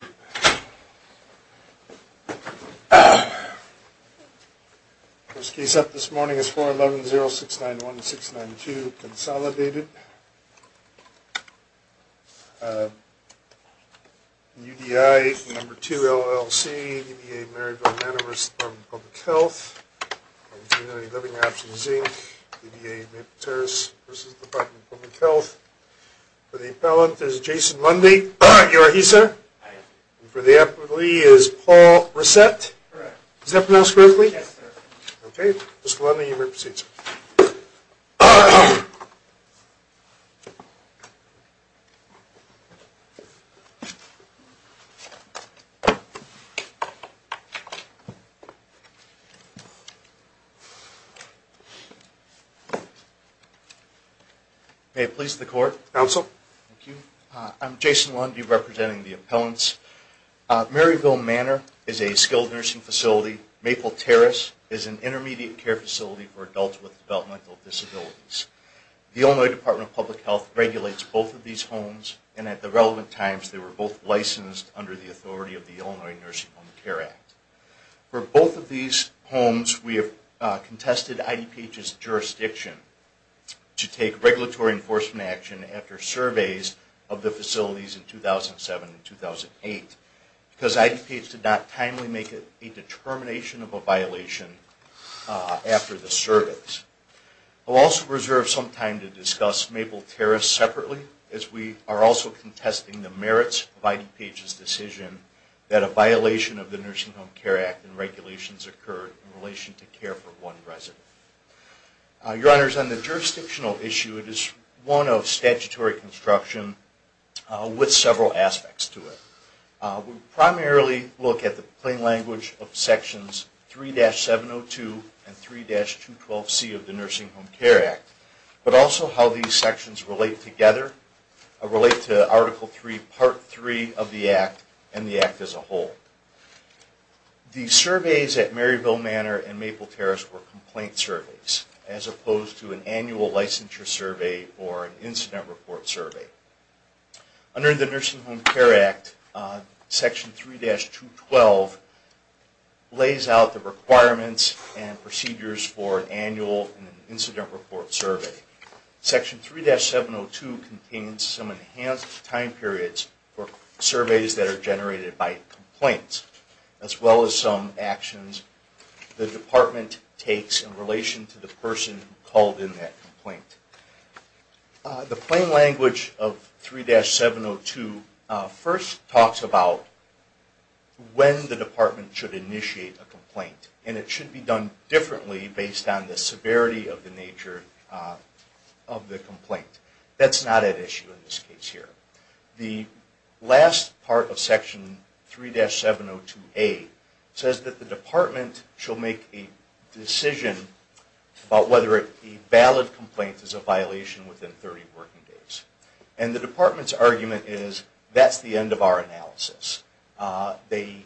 The first case up this morning is 411-0691-692, Consolidated, UDI 2 LLC, UDI Married to a Man at Risk, Department of Public Health, UDI Living Apps and Zinc, UDI Materas vs. Department of Public Health. For the appellant, there's Jason Mundy. You are he, sir? I am. And for the appellee is Paul Resett. Correct. Is that pronounced correctly? Yes, sir. Okay. Mr. Lundy, you may proceed, sir. May it please the Court. Counsel. Thank you. I'm Jason Lundy representing the appellants. Maryville Manor is a skilled nursing facility. Maple Terrace is an intermediate care facility for adults with developmental disabilities. The Illinois Department of Public Health regulates both of these homes, and at the relevant times, they were both licensed under the authority of the Illinois Nursing Home Care Act. For both of these homes, we have contested IDPH's jurisdiction to take regulatory enforcement action after surveys of the facilities in 2007 and 2008, because IDPH did not timely make a determination of a violation after the surveys. I'll also reserve some time to discuss Maple Terrace separately, as we are also contesting the merits of IDPH's decision that a violation of the Nursing Home Care Act and regulations occurred in relation to care for one resident. Your Honors, on the jurisdictional issue, it is one of statutory construction with several aspects to it. We primarily look at the plain language of Sections 3-702 and 3-212C of the Nursing Home Care Act, but also how these sections relate together, relate to Article 3, Part 3 of the Act, and the Act as a whole. The surveys at Maryville Manor and Maple Terrace were complaint surveys, as opposed to an annual licensure survey or an incident report survey. Under the Nursing Home Care Act, Section 3-212 lays out the requirements and procedures for an annual incident report survey. Section 3-702 contains some enhanced time periods for surveys that are generated by complaints, as well as some actions the Department takes in relation to the person who called in that complaint. The plain language of 3-702 first talks about when the Department should initiate a complaint, and it should be done differently based on the severity of the nature of the complaint. That's not at issue in this case here. The last part of Section 3-702A says that the Department shall make a decision about whether a valid complaint is a violation within 30 working days. And the Department's argument is, that's the end of our analysis. They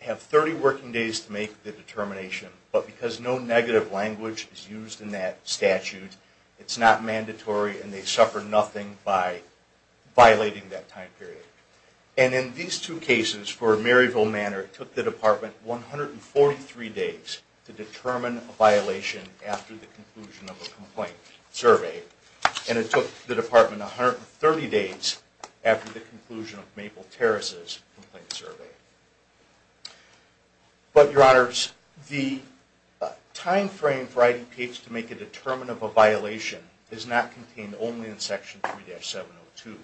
have 30 working days to make the determination, but because no negative language is used in that statute, it's not mandatory and they suffer nothing by violating that time period. And in these two cases for Maryville Manor, it took the Department 143 days to determine a violation after the conclusion of a complaint survey, and it took the Department 130 days after the conclusion of Maple Terrace's complaint survey. But, Your Honors, the time frame for IDPH to make a determination of a violation is not contained only in Section 3-702.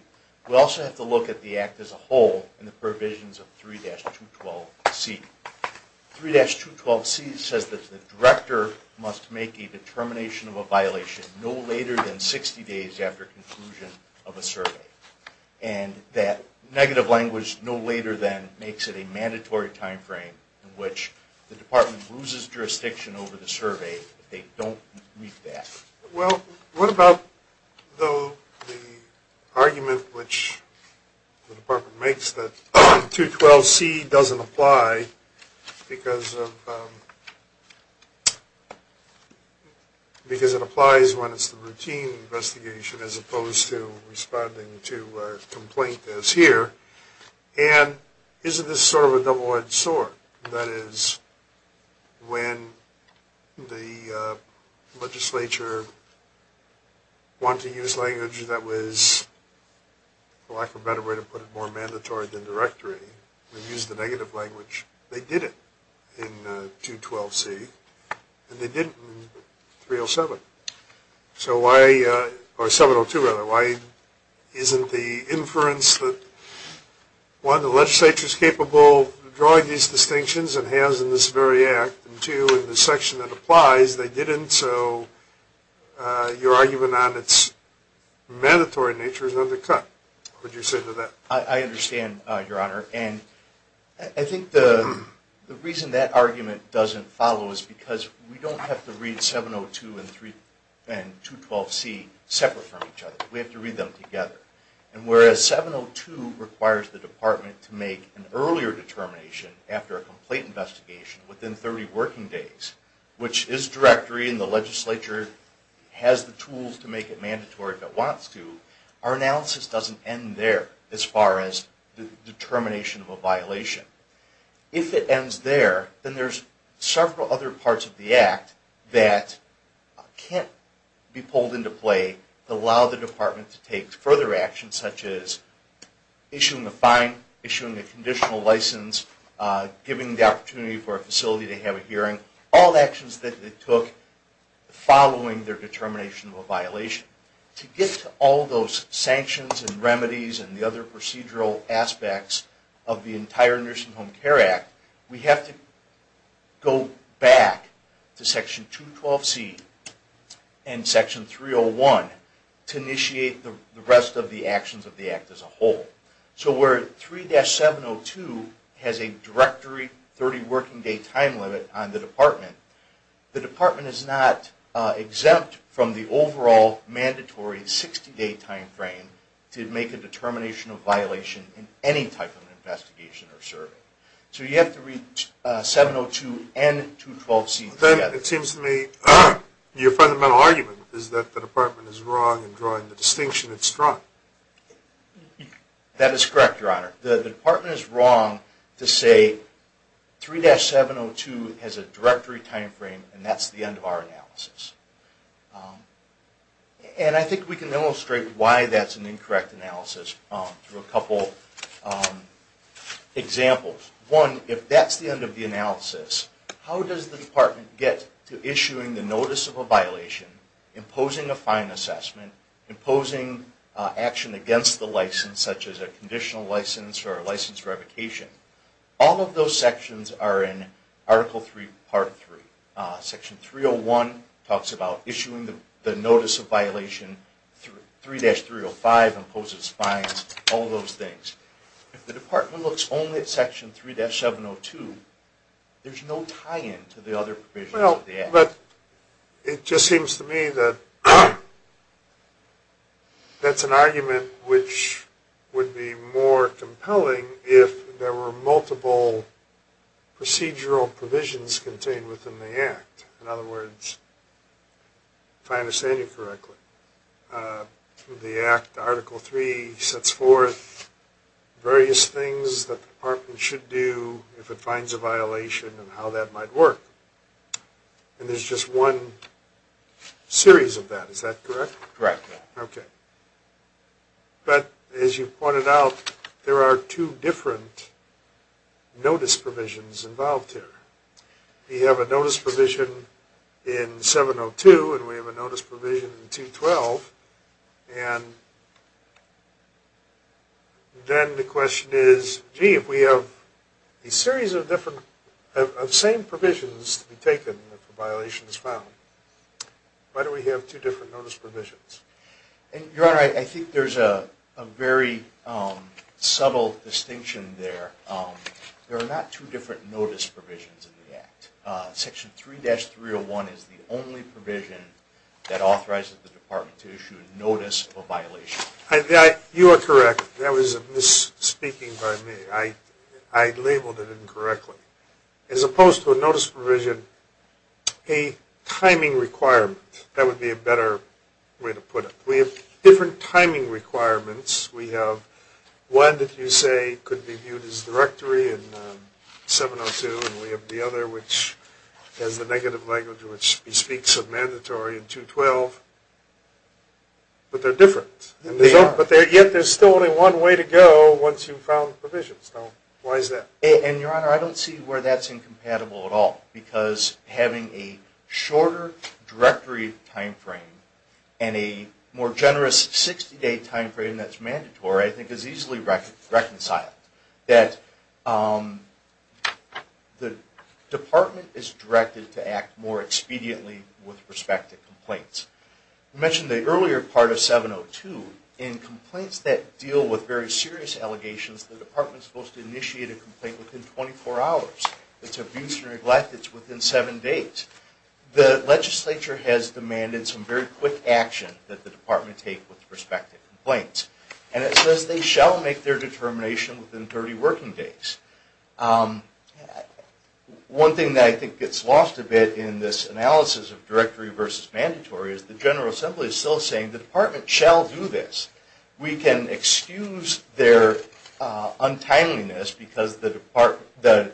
We also have to look at the Act as a whole and the provisions of 3-212C. 3-212C says that the Director must make a determination of a violation no later than and that negative language no later than makes it a mandatory time frame in which the Department loses jurisdiction over the survey if they don't meet that. Well, what about, though, the argument which the Department makes that 3-212C doesn't And isn't this sort of a double-edged sword? That is, when the legislature wanted to use language that was, for lack of a better way to put it, more mandatory than directory, they used the negative language. They did it in 2-212C, and they did it in 3-702. So why, or 702 rather, why isn't the inference that, one, the legislature is capable of drawing these distinctions and has in this very Act, and two, in the section that applies, they didn't, so your argument on its mandatory nature is undercut. What do you say to that? I understand, Your Honor, and I think the reason that argument doesn't follow is because we don't have to read 702 and 2-212C separate from each other. We have to read them together. And whereas 702 requires the Department to make an earlier determination after a complaint investigation within 30 working days, which is directory, and the legislature has the tools to make it mandatory if it wants to, our analysis doesn't end there as far as the determination of a violation. If it ends there, then there's several other parts of the Act that can't be pulled into play to allow the Department to take further action, such as issuing a fine, issuing a conditional license, giving the opportunity for a facility to have a hearing, all actions that it took following their determination of a violation. To get to all those sanctions and remedies and the other procedural aspects of the entire Nursing Home Care Act, we have to go back to Section 212C and Section 301 to initiate the rest of the actions of the Act as a whole. So where 3-702 has a directory 30 working day time limit on the Department, the Department is not exempt from the overall mandatory 60 day timeframe to make a determination of an investigation or survey. So you have to read 702 and 212C together. Then it seems to me your fundamental argument is that the Department is wrong in drawing the distinction it struck. That is correct, Your Honor. The Department is wrong to say 3-702 has a directory timeframe and that's the end of our analysis. And I think we can illustrate why that's an incorrect analysis through a couple examples. One, if that's the end of the analysis, how does the Department get to issuing the notice of a violation, imposing a fine assessment, imposing action against the license, such as a conditional license or a license revocation? All of those sections are in Article 3, Part 3. Section 301 talks about issuing the notice of violation, 3-305 imposes fines, all those things. If the Department looks only at Section 3-702, there's no tie-in to the other provisions of the Act. Well, but it just seems to me that that's an argument which would be more compelling if there were multiple procedural provisions contained within the Act. In other words, if I understand you correctly, through the Act, Article 3 sets forth various things that the Department should do if it finds a violation and how that might work. And there's just one series of that. Is that correct? Correct. Okay. But, as you pointed out, there are two different notice provisions involved here. We have a notice provision in 702, and we have a notice provision in 212, and then the question is, gee, if we have a series of same provisions to be taken if a violation is found, why do we have two different notice provisions? Your Honor, I think there's a very subtle distinction there. There are not two different notice provisions in the Act. Section 3-301 is the only provision that authorizes the Department to issue a notice of violation. You are correct. That was a misspeaking by me. I labeled it incorrectly. As opposed to a notice provision, a timing requirement. That would be a better way to put it. We have different timing requirements. We have one that you say could be viewed as directory in 702, and we have the other which has the negative language which speaks of mandatory in 212. But they're different. Yet there's still only one way to go once you've found the provisions. Why is that? Your Honor, I don't see where that's incompatible at all. Because having a shorter directory time frame and a more generous 60-day time frame that's mandatory I think is easily reconciled. That the Department is directed to act more expediently with respect to complaints. I mentioned the earlier part of 702. In complaints that deal with very serious allegations, the Department is supposed to make a complaint within 24 hours. It's abuse and neglect. It's within seven days. The legislature has demanded some very quick action that the Department take with respect to complaints. And it says they shall make their determination within 30 working days. One thing that I think gets lost a bit in this analysis of directory versus mandatory is the General Assembly is still saying the Department shall do this. We can excuse their untimeliness because the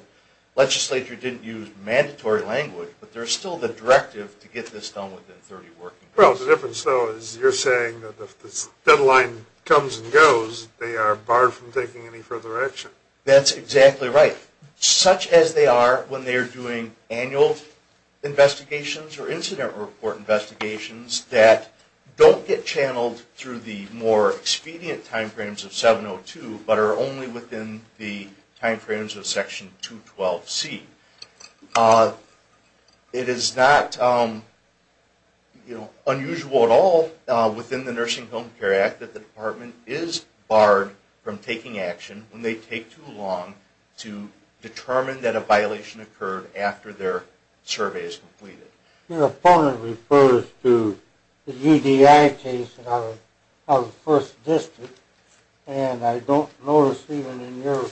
legislature didn't use mandatory language. But there's still the directive to get this done within 30 working days. Well, the difference though is you're saying that if this deadline comes and goes, they are barred from taking any further action. That's exactly right. Such as they are when they are doing annual investigations or incident report investigations that don't get channeled through the more expedient timeframes of 702, but are only within the timeframes of Section 212C. It is not unusual at all within the Nursing Home Care Act that the Department is barred from taking action when they take too long to determine that a violation occurred after their survey is completed. Your opponent refers to the UDI case out of the 1st District, and I don't notice even in your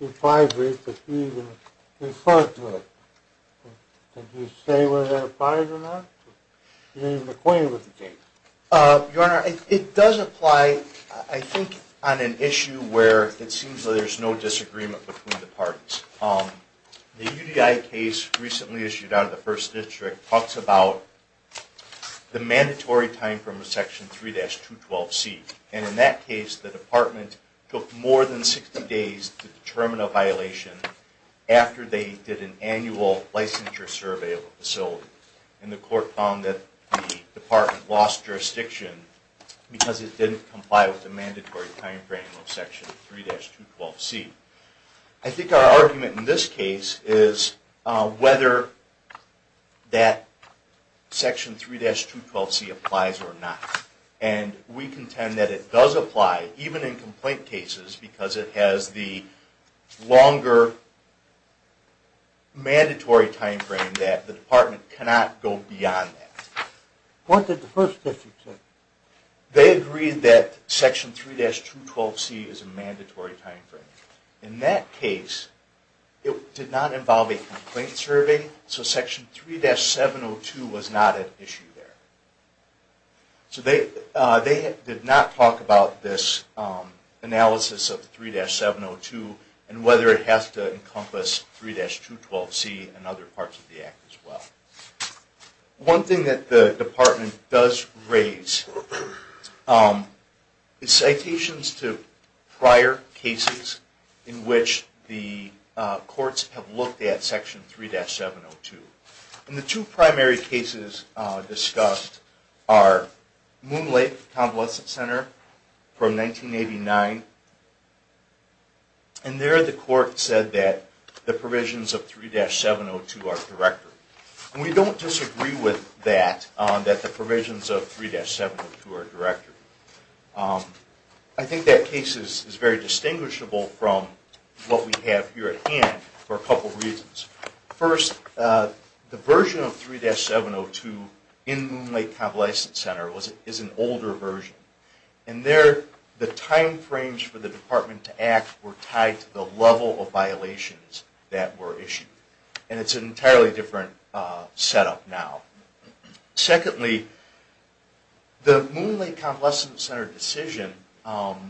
repository that you even refer to it. Did you say whether that applies or not? Are you even acquainted with the case? Your Honor, it does apply, I think, on an issue where it seems like there's no disagreement between the parties. The UDI case recently issued out of the 1st District talks about the mandatory timeframe of Section 3-212C. And in that case, the Department took more than 60 days to determine a violation after they did an annual licensure survey of the facility. And the Court found that the Department lost jurisdiction because it didn't comply with the mandatory timeframe of Section 3-212C. I think our argument in this case is whether that Section 3-212C applies or not. And we contend that it does apply, even in complaint cases, because it has the longer mandatory timeframe that the Department cannot go beyond that. What did the 1st District say? They agreed that Section 3-212C is a mandatory timeframe. In that case, it did not involve a complaint survey, so Section 3-702 was not an issue there. So they did not talk about this analysis of 3-702 and whether it has to encompass 3-212C and other parts of the Act as well. One thing that the Department does raise is citations to prior cases in which the courts have looked at Section 3-702. And the two primary cases discussed are Moon Lake Convalescent Center from 1989. And there the Court said that the provisions of 3-702 are directory. And we don't disagree with that, that the provisions of 3-702 are directory. I think that case is very distinguishable from what we have here at hand for a couple reasons. First, the version of 3-702 in Moon Lake Convalescent Center is an older version. And there the timeframes for the Department to act were tied to the level of violations that were issued. And it's an entirely different setup now. Secondly, the Moon Lake Convalescent Center decision follows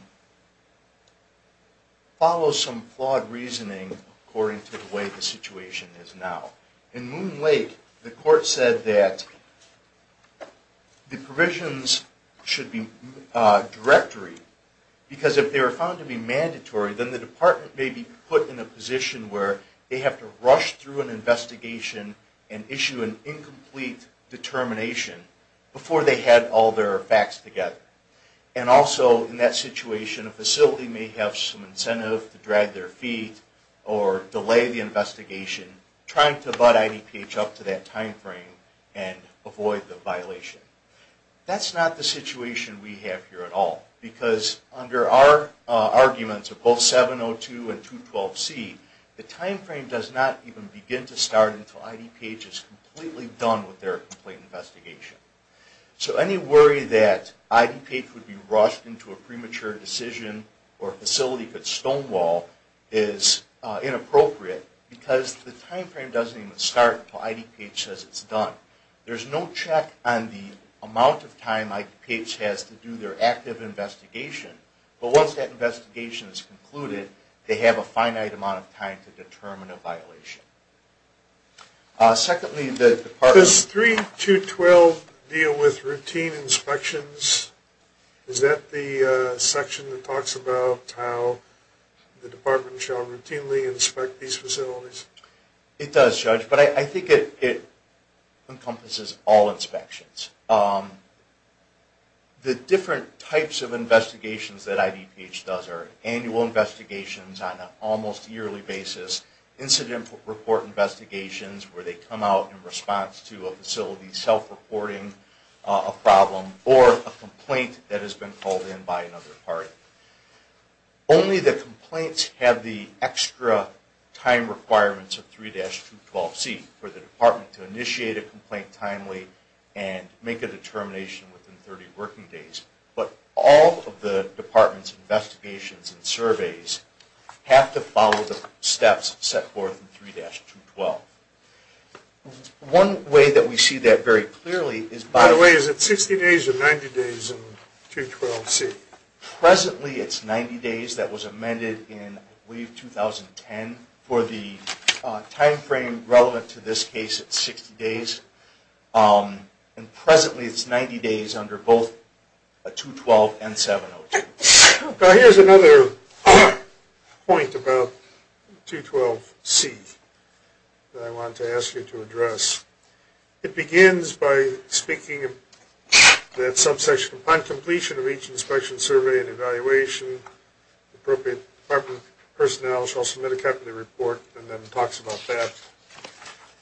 some flawed reasoning according to the way the situation is now. In Moon Lake, the Court said that the provisions should be directory because if they were found to be mandatory, then the Department may be put in a position where they have to rush through an investigation and issue an incomplete determination before they had all their facts together. And also, in that situation, a facility may have some incentive to drag their feet or delay the investigation, trying to butt IDPH up to that timeframe and avoid the violation. That's not the situation we have here at all. Because under our arguments of both 3-702 and 3-212C, the timeframe does not even begin to start until IDPH is completely done with their complete investigation. So any worry that IDPH would be rushed into a premature decision or a facility could stonewall is inappropriate because the timeframe doesn't even start until IDPH says it's done. There's no check on the amount of time IDPH has to do their active investigation. But once that investigation is concluded, they have a finite amount of time to determine a violation. Secondly, the Department... Does 3-212 deal with routine inspections? Is that the section that talks about how the Department shall routinely inspect these facilities? It does, Judge, but I think it encompasses all inspections. The different types of investigations that IDPH does are annual investigations on an almost yearly basis, incident report investigations where they come out in response to a facility self-reporting a problem or a complaint that has been called in by another party. Only the complaints have the extra time requirements of 3-212C for the Department to initiate a complaint timely and make a determination within 30 working days. But all of the Department's investigations and surveys have to follow the steps set forth in 3-212. One way that we see that very clearly is by... By the way, is it 60 days or 90 days in 3-212C? Presently it's 90 days. That was amended in WAVE 2010 for the timeframe relevant to this case at 60 days. Presently it's 90 days under both 2-212 and 7-02. Here's another point about 2-212C that I want to ask you to address. It begins by speaking of that subsection upon completion of each inspection, survey, and evaluation. Appropriate Department personnel shall submit a capital report and then it talks about that.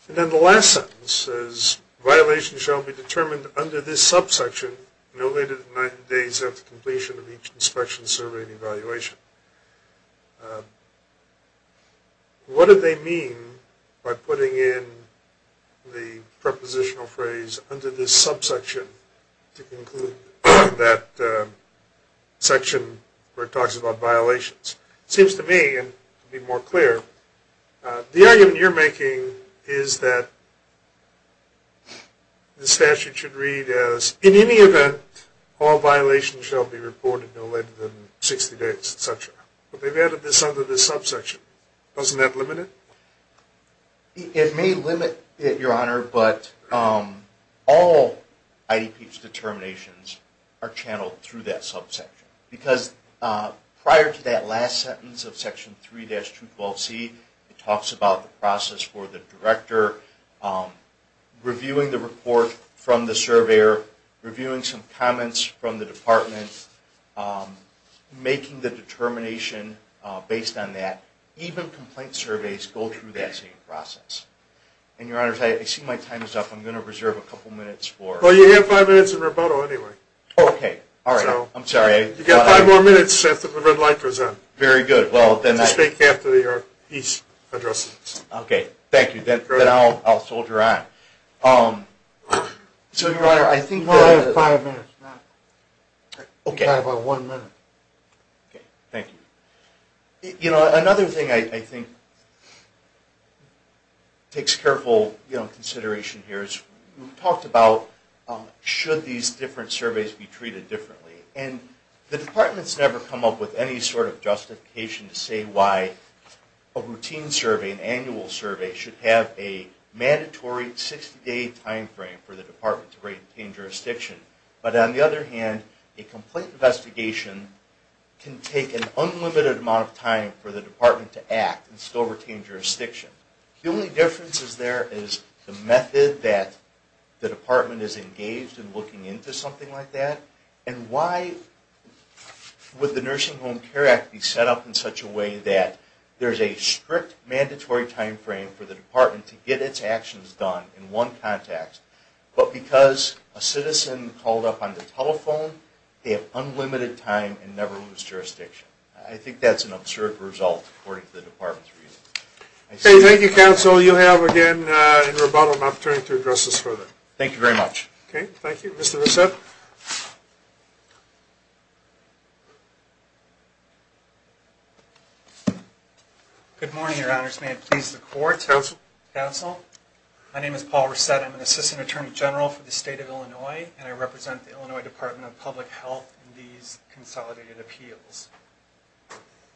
And then the last sentence says, Violations shall be determined under this subsection no later than 90 days after completion of each inspection, survey, and evaluation. What do they mean by putting in the prepositional phrase, under this subsection to conclude that section where it talks about violations? It seems to me, and to be more clear, the argument you're making is that the statute should read as, in any event, all violations shall be reported no later than 60 days, etc. But they've added this under this subsection. Doesn't that limit it? It may limit it, Your Honor, but all IDP's determinations are channeled through that subsection. Because prior to that last sentence of Section 3-212C, it talks about the process for the director, reviewing the report from the surveyor, reviewing some comments from the Department, making the determination based on that. Even complaint surveys go through that same process. And Your Honor, I see my time is up. I'm going to reserve a couple minutes for... Well, you have five minutes in rebuttal anyway. Okay. All right. I'm sorry. You've got five more minutes after the red light goes on. Very good. Well, then... Just speak after your piece addresses. Okay. Thank you. Then I'll soldier on. So, Your Honor, I think that... No, you have five minutes. Okay. You've got about one minute. Okay. Thank you. You know, another thing I think takes careful consideration here is, we've talked about, should these different surveys be treated differently? And the Department's never come up with any sort of justification to say why a routine survey, an annual survey, should have a mandatory 60-day timeframe for the Department to retain jurisdiction. But on the other hand, a complaint investigation can take an unlimited amount of time for the Department to act and still retain jurisdiction. The only difference is there is the method that the Department is engaged in looking into, something like that. And why would the Nursing Home Care Act be set up in such a way that there's a strict, mandatory timeframe for the Department to get its actions done in one context, but because a citizen called up on the telephone, they have unlimited time and never lose jurisdiction. I think that's an absurd result, according to the Department's reasoning. Thank you, Counsel. You have, again, in rebuttal, an opportunity to address this further. Thank you very much. Okay. Thank you. Mr. Rousset. Good morning, Your Honors. May it please the Court. Counsel. Counsel. My name is Paul Rousset. I'm an Assistant Attorney General for the State of Illinois, and I represent the Illinois Department of Public Health in these consolidated appeals.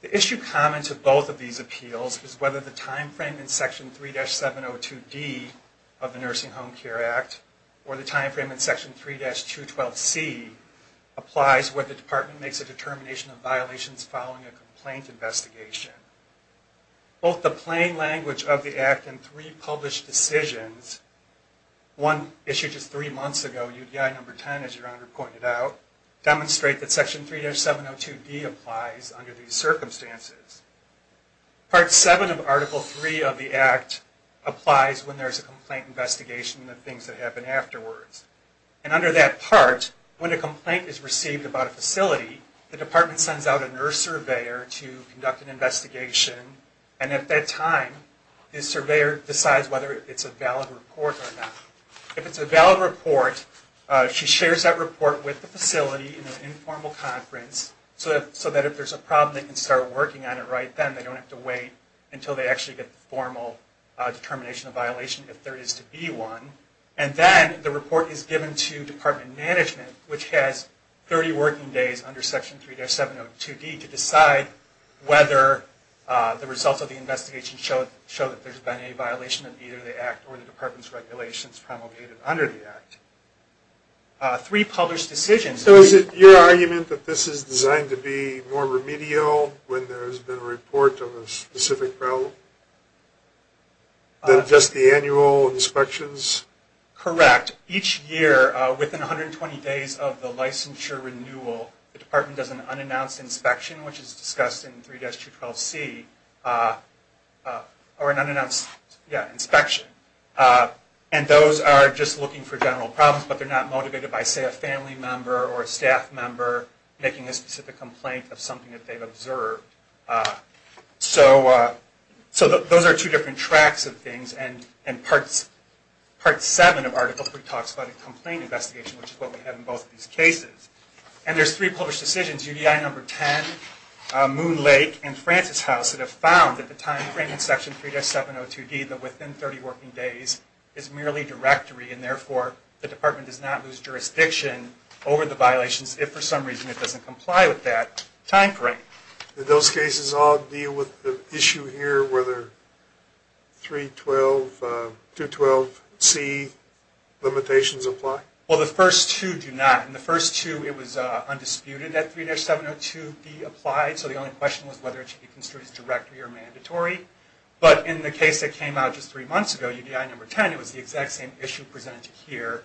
The issue common to both of these appeals is whether the timeframe in Section 3-702D of the Nursing Home Care Act or the timeframe in Section 3-212C applies where the Department makes a determination of violations following a complaint investigation. Both the plain language of the Act and three published decisions, one issued just three months ago, UDI No. 10, as Your Honor pointed out, demonstrate that Section 3-702D applies under these circumstances. Part 7 of Article 3 of the Act applies when there's a complaint investigation and the things that happen afterwards. And under that part, when a complaint is received about a facility, the Department sends out a nurse surveyor to conduct an investigation, and at that time the surveyor decides whether it's a valid report or not. If it's a valid report, she shares that report with the facility in an informal conference so that if there's a problem, they can start working on it right then. They don't have to wait until they actually get the formal determination of violation, if there is to be one. And then the report is given to Department management, which has 30 working days under Section 3-702D to decide whether the results of the investigation show that there's been a violation of either the Act or the Department's regulations promulgated under the Act. Three published decisions... So is it your argument that this is designed to be more remedial when there's been a report of a specific problem than just the annual inspections? Correct. Each year, within 120 days of the licensure renewal, the Department does an unannounced inspection, which is discussed in 3-212C, or an unannounced inspection. And those are just looking for general problems, but they're not motivated by, say, a family member or a staff member making a specific complaint of something that they've observed. So those are two different tracks of things, and Part 7 of Article 3 talks about a complaint investigation, which is what we have in both of these cases. And there's three published decisions, UDI Number 10, Moon Lake, and Francis House that have found that the timeframe in Section 3-702D, that within 30 working days, is merely directory, and therefore the Department does not lose jurisdiction over the violations if, for some reason, it doesn't comply with that timeframe. Do those cases all deal with the issue here, whether 3-212C limitations apply? Well, the first two do not. In the first two, it was undisputed that 3-702B applied, so the only question was whether it should be construed as directory or mandatory. But in the case that came out just three months ago, UDI Number 10, it was the exact same issue presented here,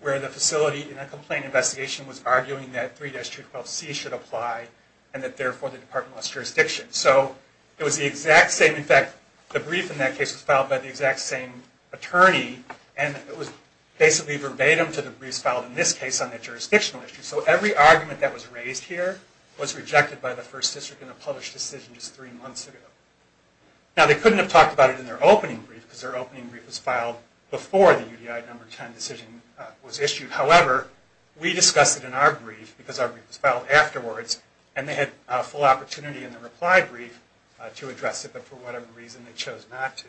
where the facility in a complaint investigation was arguing that 3-212C should apply and that, therefore, the Department lost jurisdiction. So it was the exact same. In fact, the brief in that case was filed by the exact same attorney, and it was basically verbatim to the briefs filed in this case on that jurisdictional issue. So every argument that was raised here was rejected by the First District in a published decision just three months ago. Now, they couldn't have talked about it in their opening brief, because their opening brief was filed before the UDI Number 10 decision was issued. However, we discussed it in our brief, because our brief was filed afterwards, and they had a full opportunity in the reply brief to address it, but for whatever reason, they chose not to.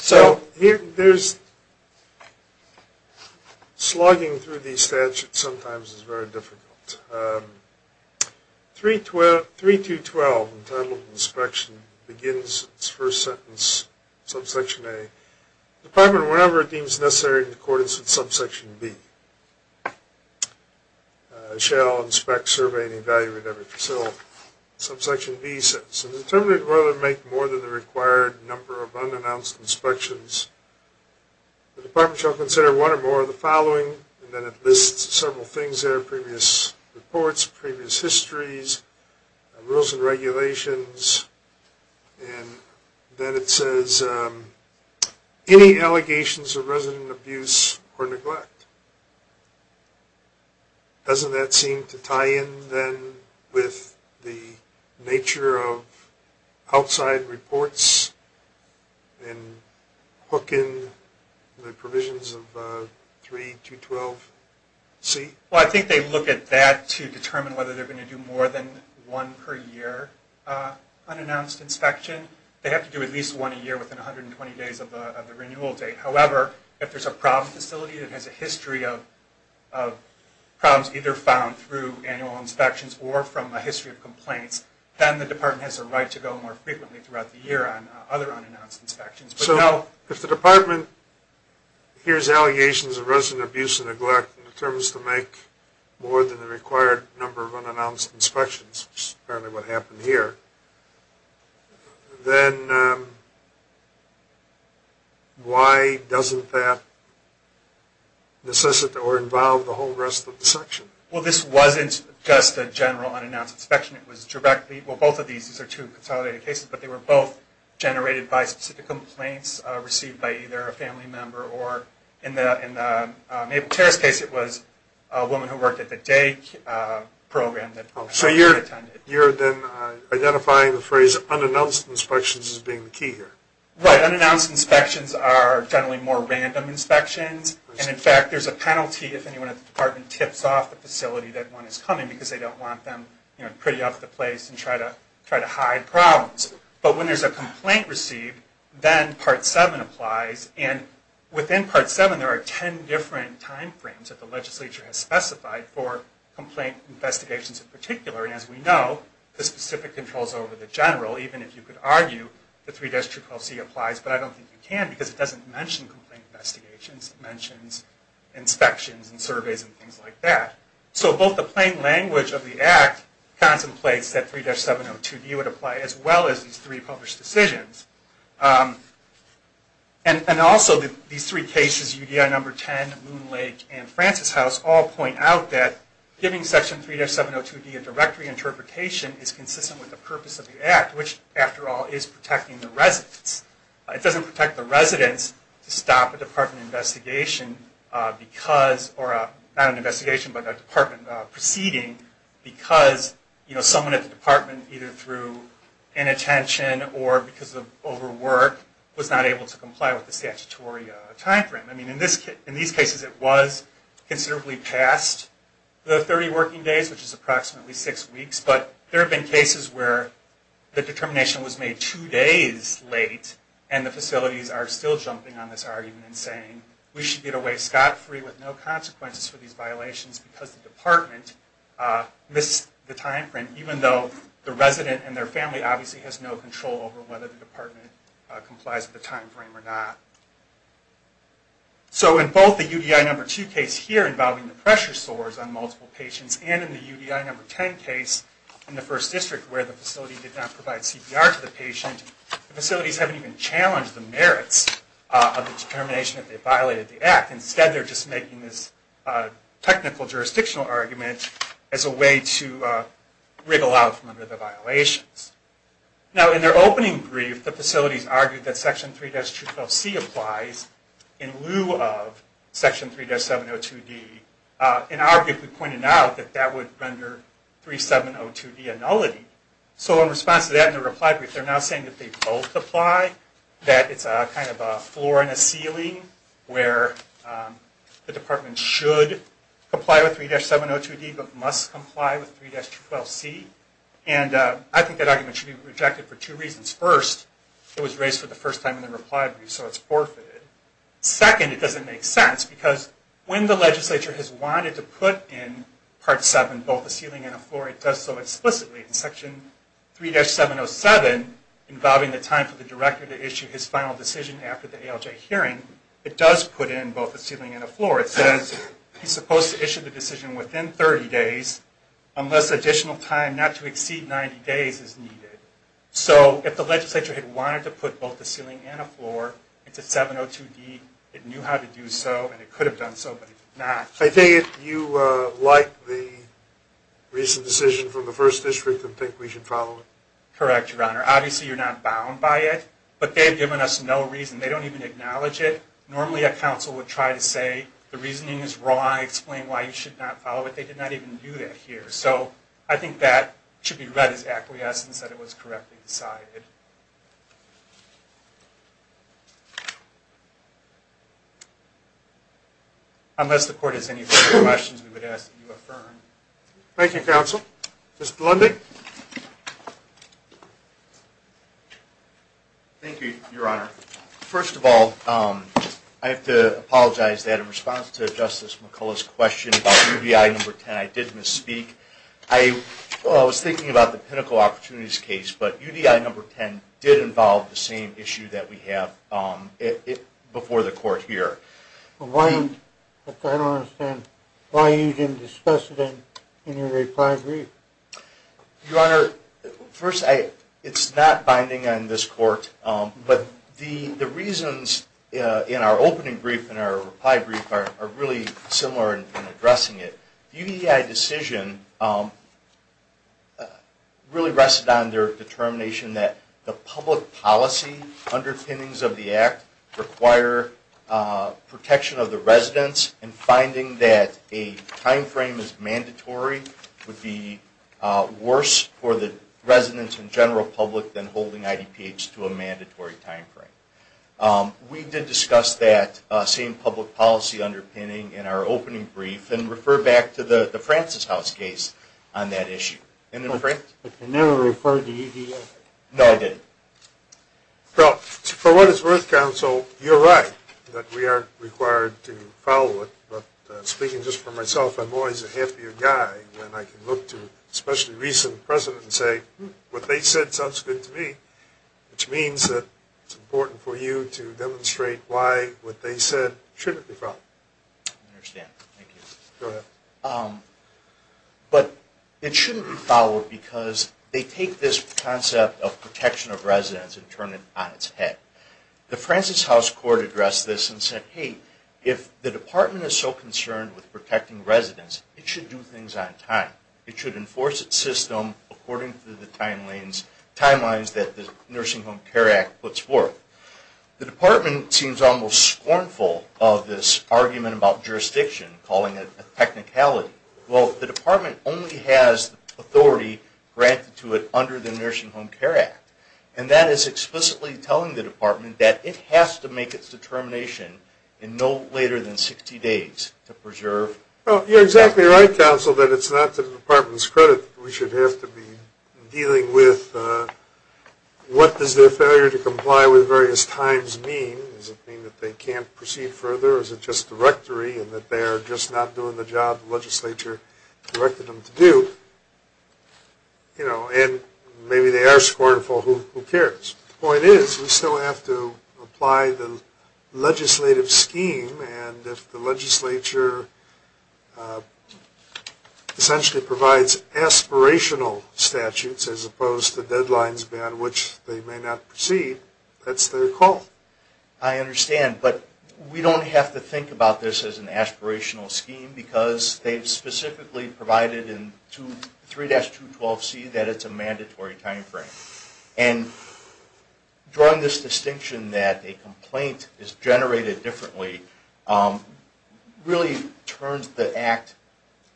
So, slugging through these statutes sometimes is very difficult. 3-212, the title of the inspection, begins its first sentence, subsection A. The Department, whenever it deems necessary in accordance with subsection B, shall inspect, survey, and evaluate every facility. Subsection B says, if the Determinant would rather make more than the required number of unannounced inspections, the Department shall consider one or more of the following, and then it lists several things there, previous reports, previous histories, rules and regulations, and then it says, any allegations of resident abuse or neglect. Doesn't that seem to tie in, then, with the nature of outside reports, and hook in the provisions of 3-212-C? Well, I think they look at that to determine whether they're going to do more than one per year unannounced inspection. They have to do at least one a year within 120 days of the renewal date. However, if there's a problem facility that has a history of problems either found through annual inspections or from a history of complaints, then the Department has a right to go more frequently throughout the year on other unannounced inspections. So, if the Department hears allegations of resident abuse and neglect and determines to make more than the required number of unannounced inspections, which is apparently what happened here, then why doesn't that necessitate or involve the whole rest of the section? Well, this wasn't just a general unannounced inspection. It was directly, well, both of these, these are two consolidated cases, but they were both generated by specific complaints received by either a family member or, in the Mabel Terras case, it was a woman who worked at the day program. So you're then identifying the phrase unannounced inspections as being the key here. Right. Unannounced inspections are generally more random inspections. And, in fact, there's a penalty if anyone at the Department tips off the facility that one is coming because they don't want them pretty off the place and try to hide problems. But when there's a complaint received, then Part 7 applies. And within Part 7, there are 10 different time frames that the legislature has specified for complaint investigations in particular. And, as we know, the specific controls over the general, even if you could argue that 3-212C applies, but I don't think you can because it doesn't mention complaint investigations. It mentions inspections and surveys and things like that. So both the plain language of the Act contemplates that 3-702D would apply, as well as these three published decisions. And also, these three cases, UDI Number 10, Moon Lake, and Francis House, all point out that giving Section 3-702D a directory interpretation is consistent with the purpose of the Act, which, after all, is protecting the residents. It doesn't protect the residents to stop a Department investigation because, or not an investigation, but a Department proceeding because, you know, someone at the Department, either through inattention or because of overwork, was not able to comply with the statutory time frame. I mean, in these cases, it was considerably past the 30 working days, which is approximately six weeks, but there have been cases where the determination was made two days late, and the facilities are still jumping on this argument and saying, we should get away scot-free with no consequences for these violations because the Department missed the time frame, even though the resident and their family obviously has no control over whether the Department complies with the time frame or not. So in both the UDI Number 2 case here, involving the pressure sores on multiple patients, and in the UDI Number 10 case in the First District, where the facility did not provide CPR to the patient, the facilities haven't even challenged the merits of the determination that they violated the Act. Instead, they're just making this technical jurisdictional argument as a way to wriggle out from under the violations. Now, in their opening brief, the facilities argued that Section 3-212C applies in lieu of Section 3-702D, and arguably pointed out that that would render 3-702D a nullity. So in response to that, in their reply brief, they're now saying that they both apply, that it's a kind of a floor and a ceiling, where the Department should comply with 3-702D, but must comply with 3-212C. And I think that argument should be rejected for two reasons. First, it was raised for the first time in the reply brief, so it's forfeited. Second, it doesn't make sense, because when the legislature has wanted to put in Part 7, both a ceiling and a floor, it does so explicitly in Section 3-707, involving the time for the director to issue his final decision after the ALJ hearing, it does put in both a ceiling and a floor. It says he's supposed to issue the decision within 30 days, unless additional time not to exceed 90 days is needed. So if the legislature had wanted to put both a ceiling and a floor into 702D, it knew how to do so, and it could have done so, but it did not. I think if you like the recent decision from the First District, then I think we should follow it. Correct, Your Honor. Obviously, you're not bound by it, but they've given us no reason. They don't even acknowledge it. Normally, a counsel would try to say the reasoning is wrong, explain why you should not follow it. They did not even do that here. So I think that should be read as acquiescence, that it was correctly decided. Unless the Court has any further questions, we would ask that you affirm. Thank you, Counsel. Mr. Lundy? Thank you, Your Honor. First of all, I have to apologize that in response to Justice McCullough's question about UDI No. 10, I did misspeak. I was thinking about the pinnacle opportunities case, but UDI No. 10 did involve the same issue that we have before the Court here. I don't understand. Why you didn't discuss it in your reply brief? Your Honor, first, it's not binding on this Court, but the reasons in our opening brief and our reply brief are really similar in addressing it. The UDI decision really rested on their determination that the public policy underpinnings of the Act require protection of the residents and finding that a timeframe is mandatory would be worse for the residents and general public than holding IDPH to a mandatory timeframe. We did discuss that same public policy underpinning in our opening brief and refer back to the Francis House case on that issue. But you never referred to UDI? No, I didn't. Well, for what it's worth, Counsel, you're right that we are required to follow it, but speaking just for myself, I'm always a happier guy when I can look to demonstrate why what they said shouldn't be followed. I understand. Thank you. Go ahead. But it shouldn't be followed because they take this concept of protection of residents and turn it on its head. The Francis House Court addressed this and said, hey, if the Department is so concerned with protecting residents, it should do things on time. It should enforce its system according to the timelines that the Nursing Home Care Act puts forth. The Department seems almost scornful of this argument about jurisdiction, calling it a technicality. Well, the Department only has authority granted to it under the Nursing Home Care Act. And that is explicitly telling the Department that it has to make its determination in no later than 60 days to preserve... Well, you're exactly right, Counsel, that it's not to the Department's credit that we should have to be dealing with what does their failure to comply with various times mean. Does it mean that they can't proceed further? Or is it just directory and that they are just not doing the job the legislature directed them to do? You know, and maybe they are scornful. Who cares? The point is, we still have to apply the legislative scheme. And if the legislature essentially provides aspirational statutes as opposed to deadlines beyond which they may not proceed, that's their call. I understand, but we don't have to think about this as an aspirational scheme because they've specifically provided in 3-212C that it's a mandatory timeframe. And drawing this distinction that a complaint is generated differently really turns the Act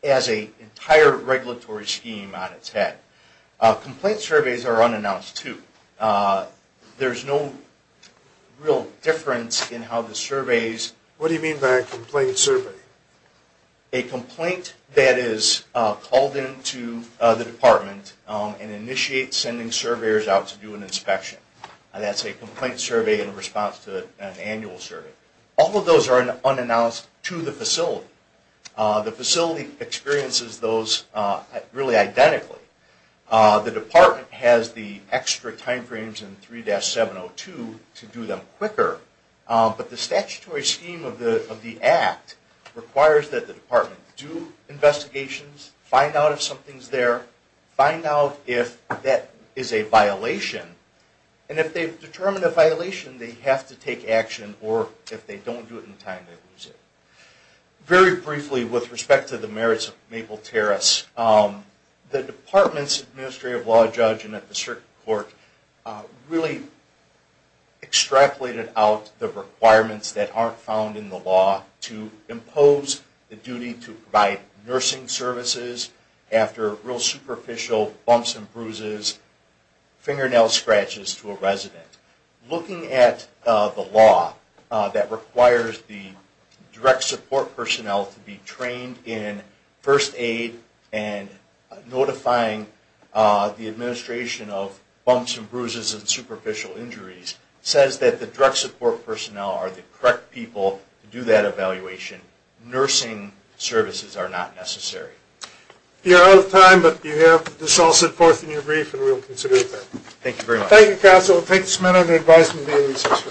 as an entire regulatory scheme on its head. Complaint surveys are unannounced too. There's no real difference in how the surveys... What do you mean by a complaint survey? A complaint that is called into the Department and initiates sending surveyors out to do an inspection. That's a complaint survey in response to an annual survey. All of those are unannounced to the facility. The facility experiences those really identically. The Department has the extra timeframes in 3-702 to do them quicker. But the statutory scheme of the Act requires that the Department do investigations, find out if something's there, find out if that is a violation. And if they've determined a violation, they have to take action, or if they don't do it in time, they lose it. Very briefly, with respect to the merits of Maple Terrace, the Department's Administrative Law Judge and the District Court really extrapolated out the requirements that aren't found in the law to impose the duty to provide nursing services after real superficial bumps and bruises, fingernail scratches to a resident. Looking at the law that requires the direct support personnel to be trained in first aid and notifying the administration of bumps and bruises and superficial injuries says that the direct support personnel are the correct people to do that evaluation. Nursing services are not necessary. You're out of time, but you have this all set forth in your brief, and we'll consider it there. Thank you very much. Thank you, Counsel. I'll take this amendment and advise them to be in recess.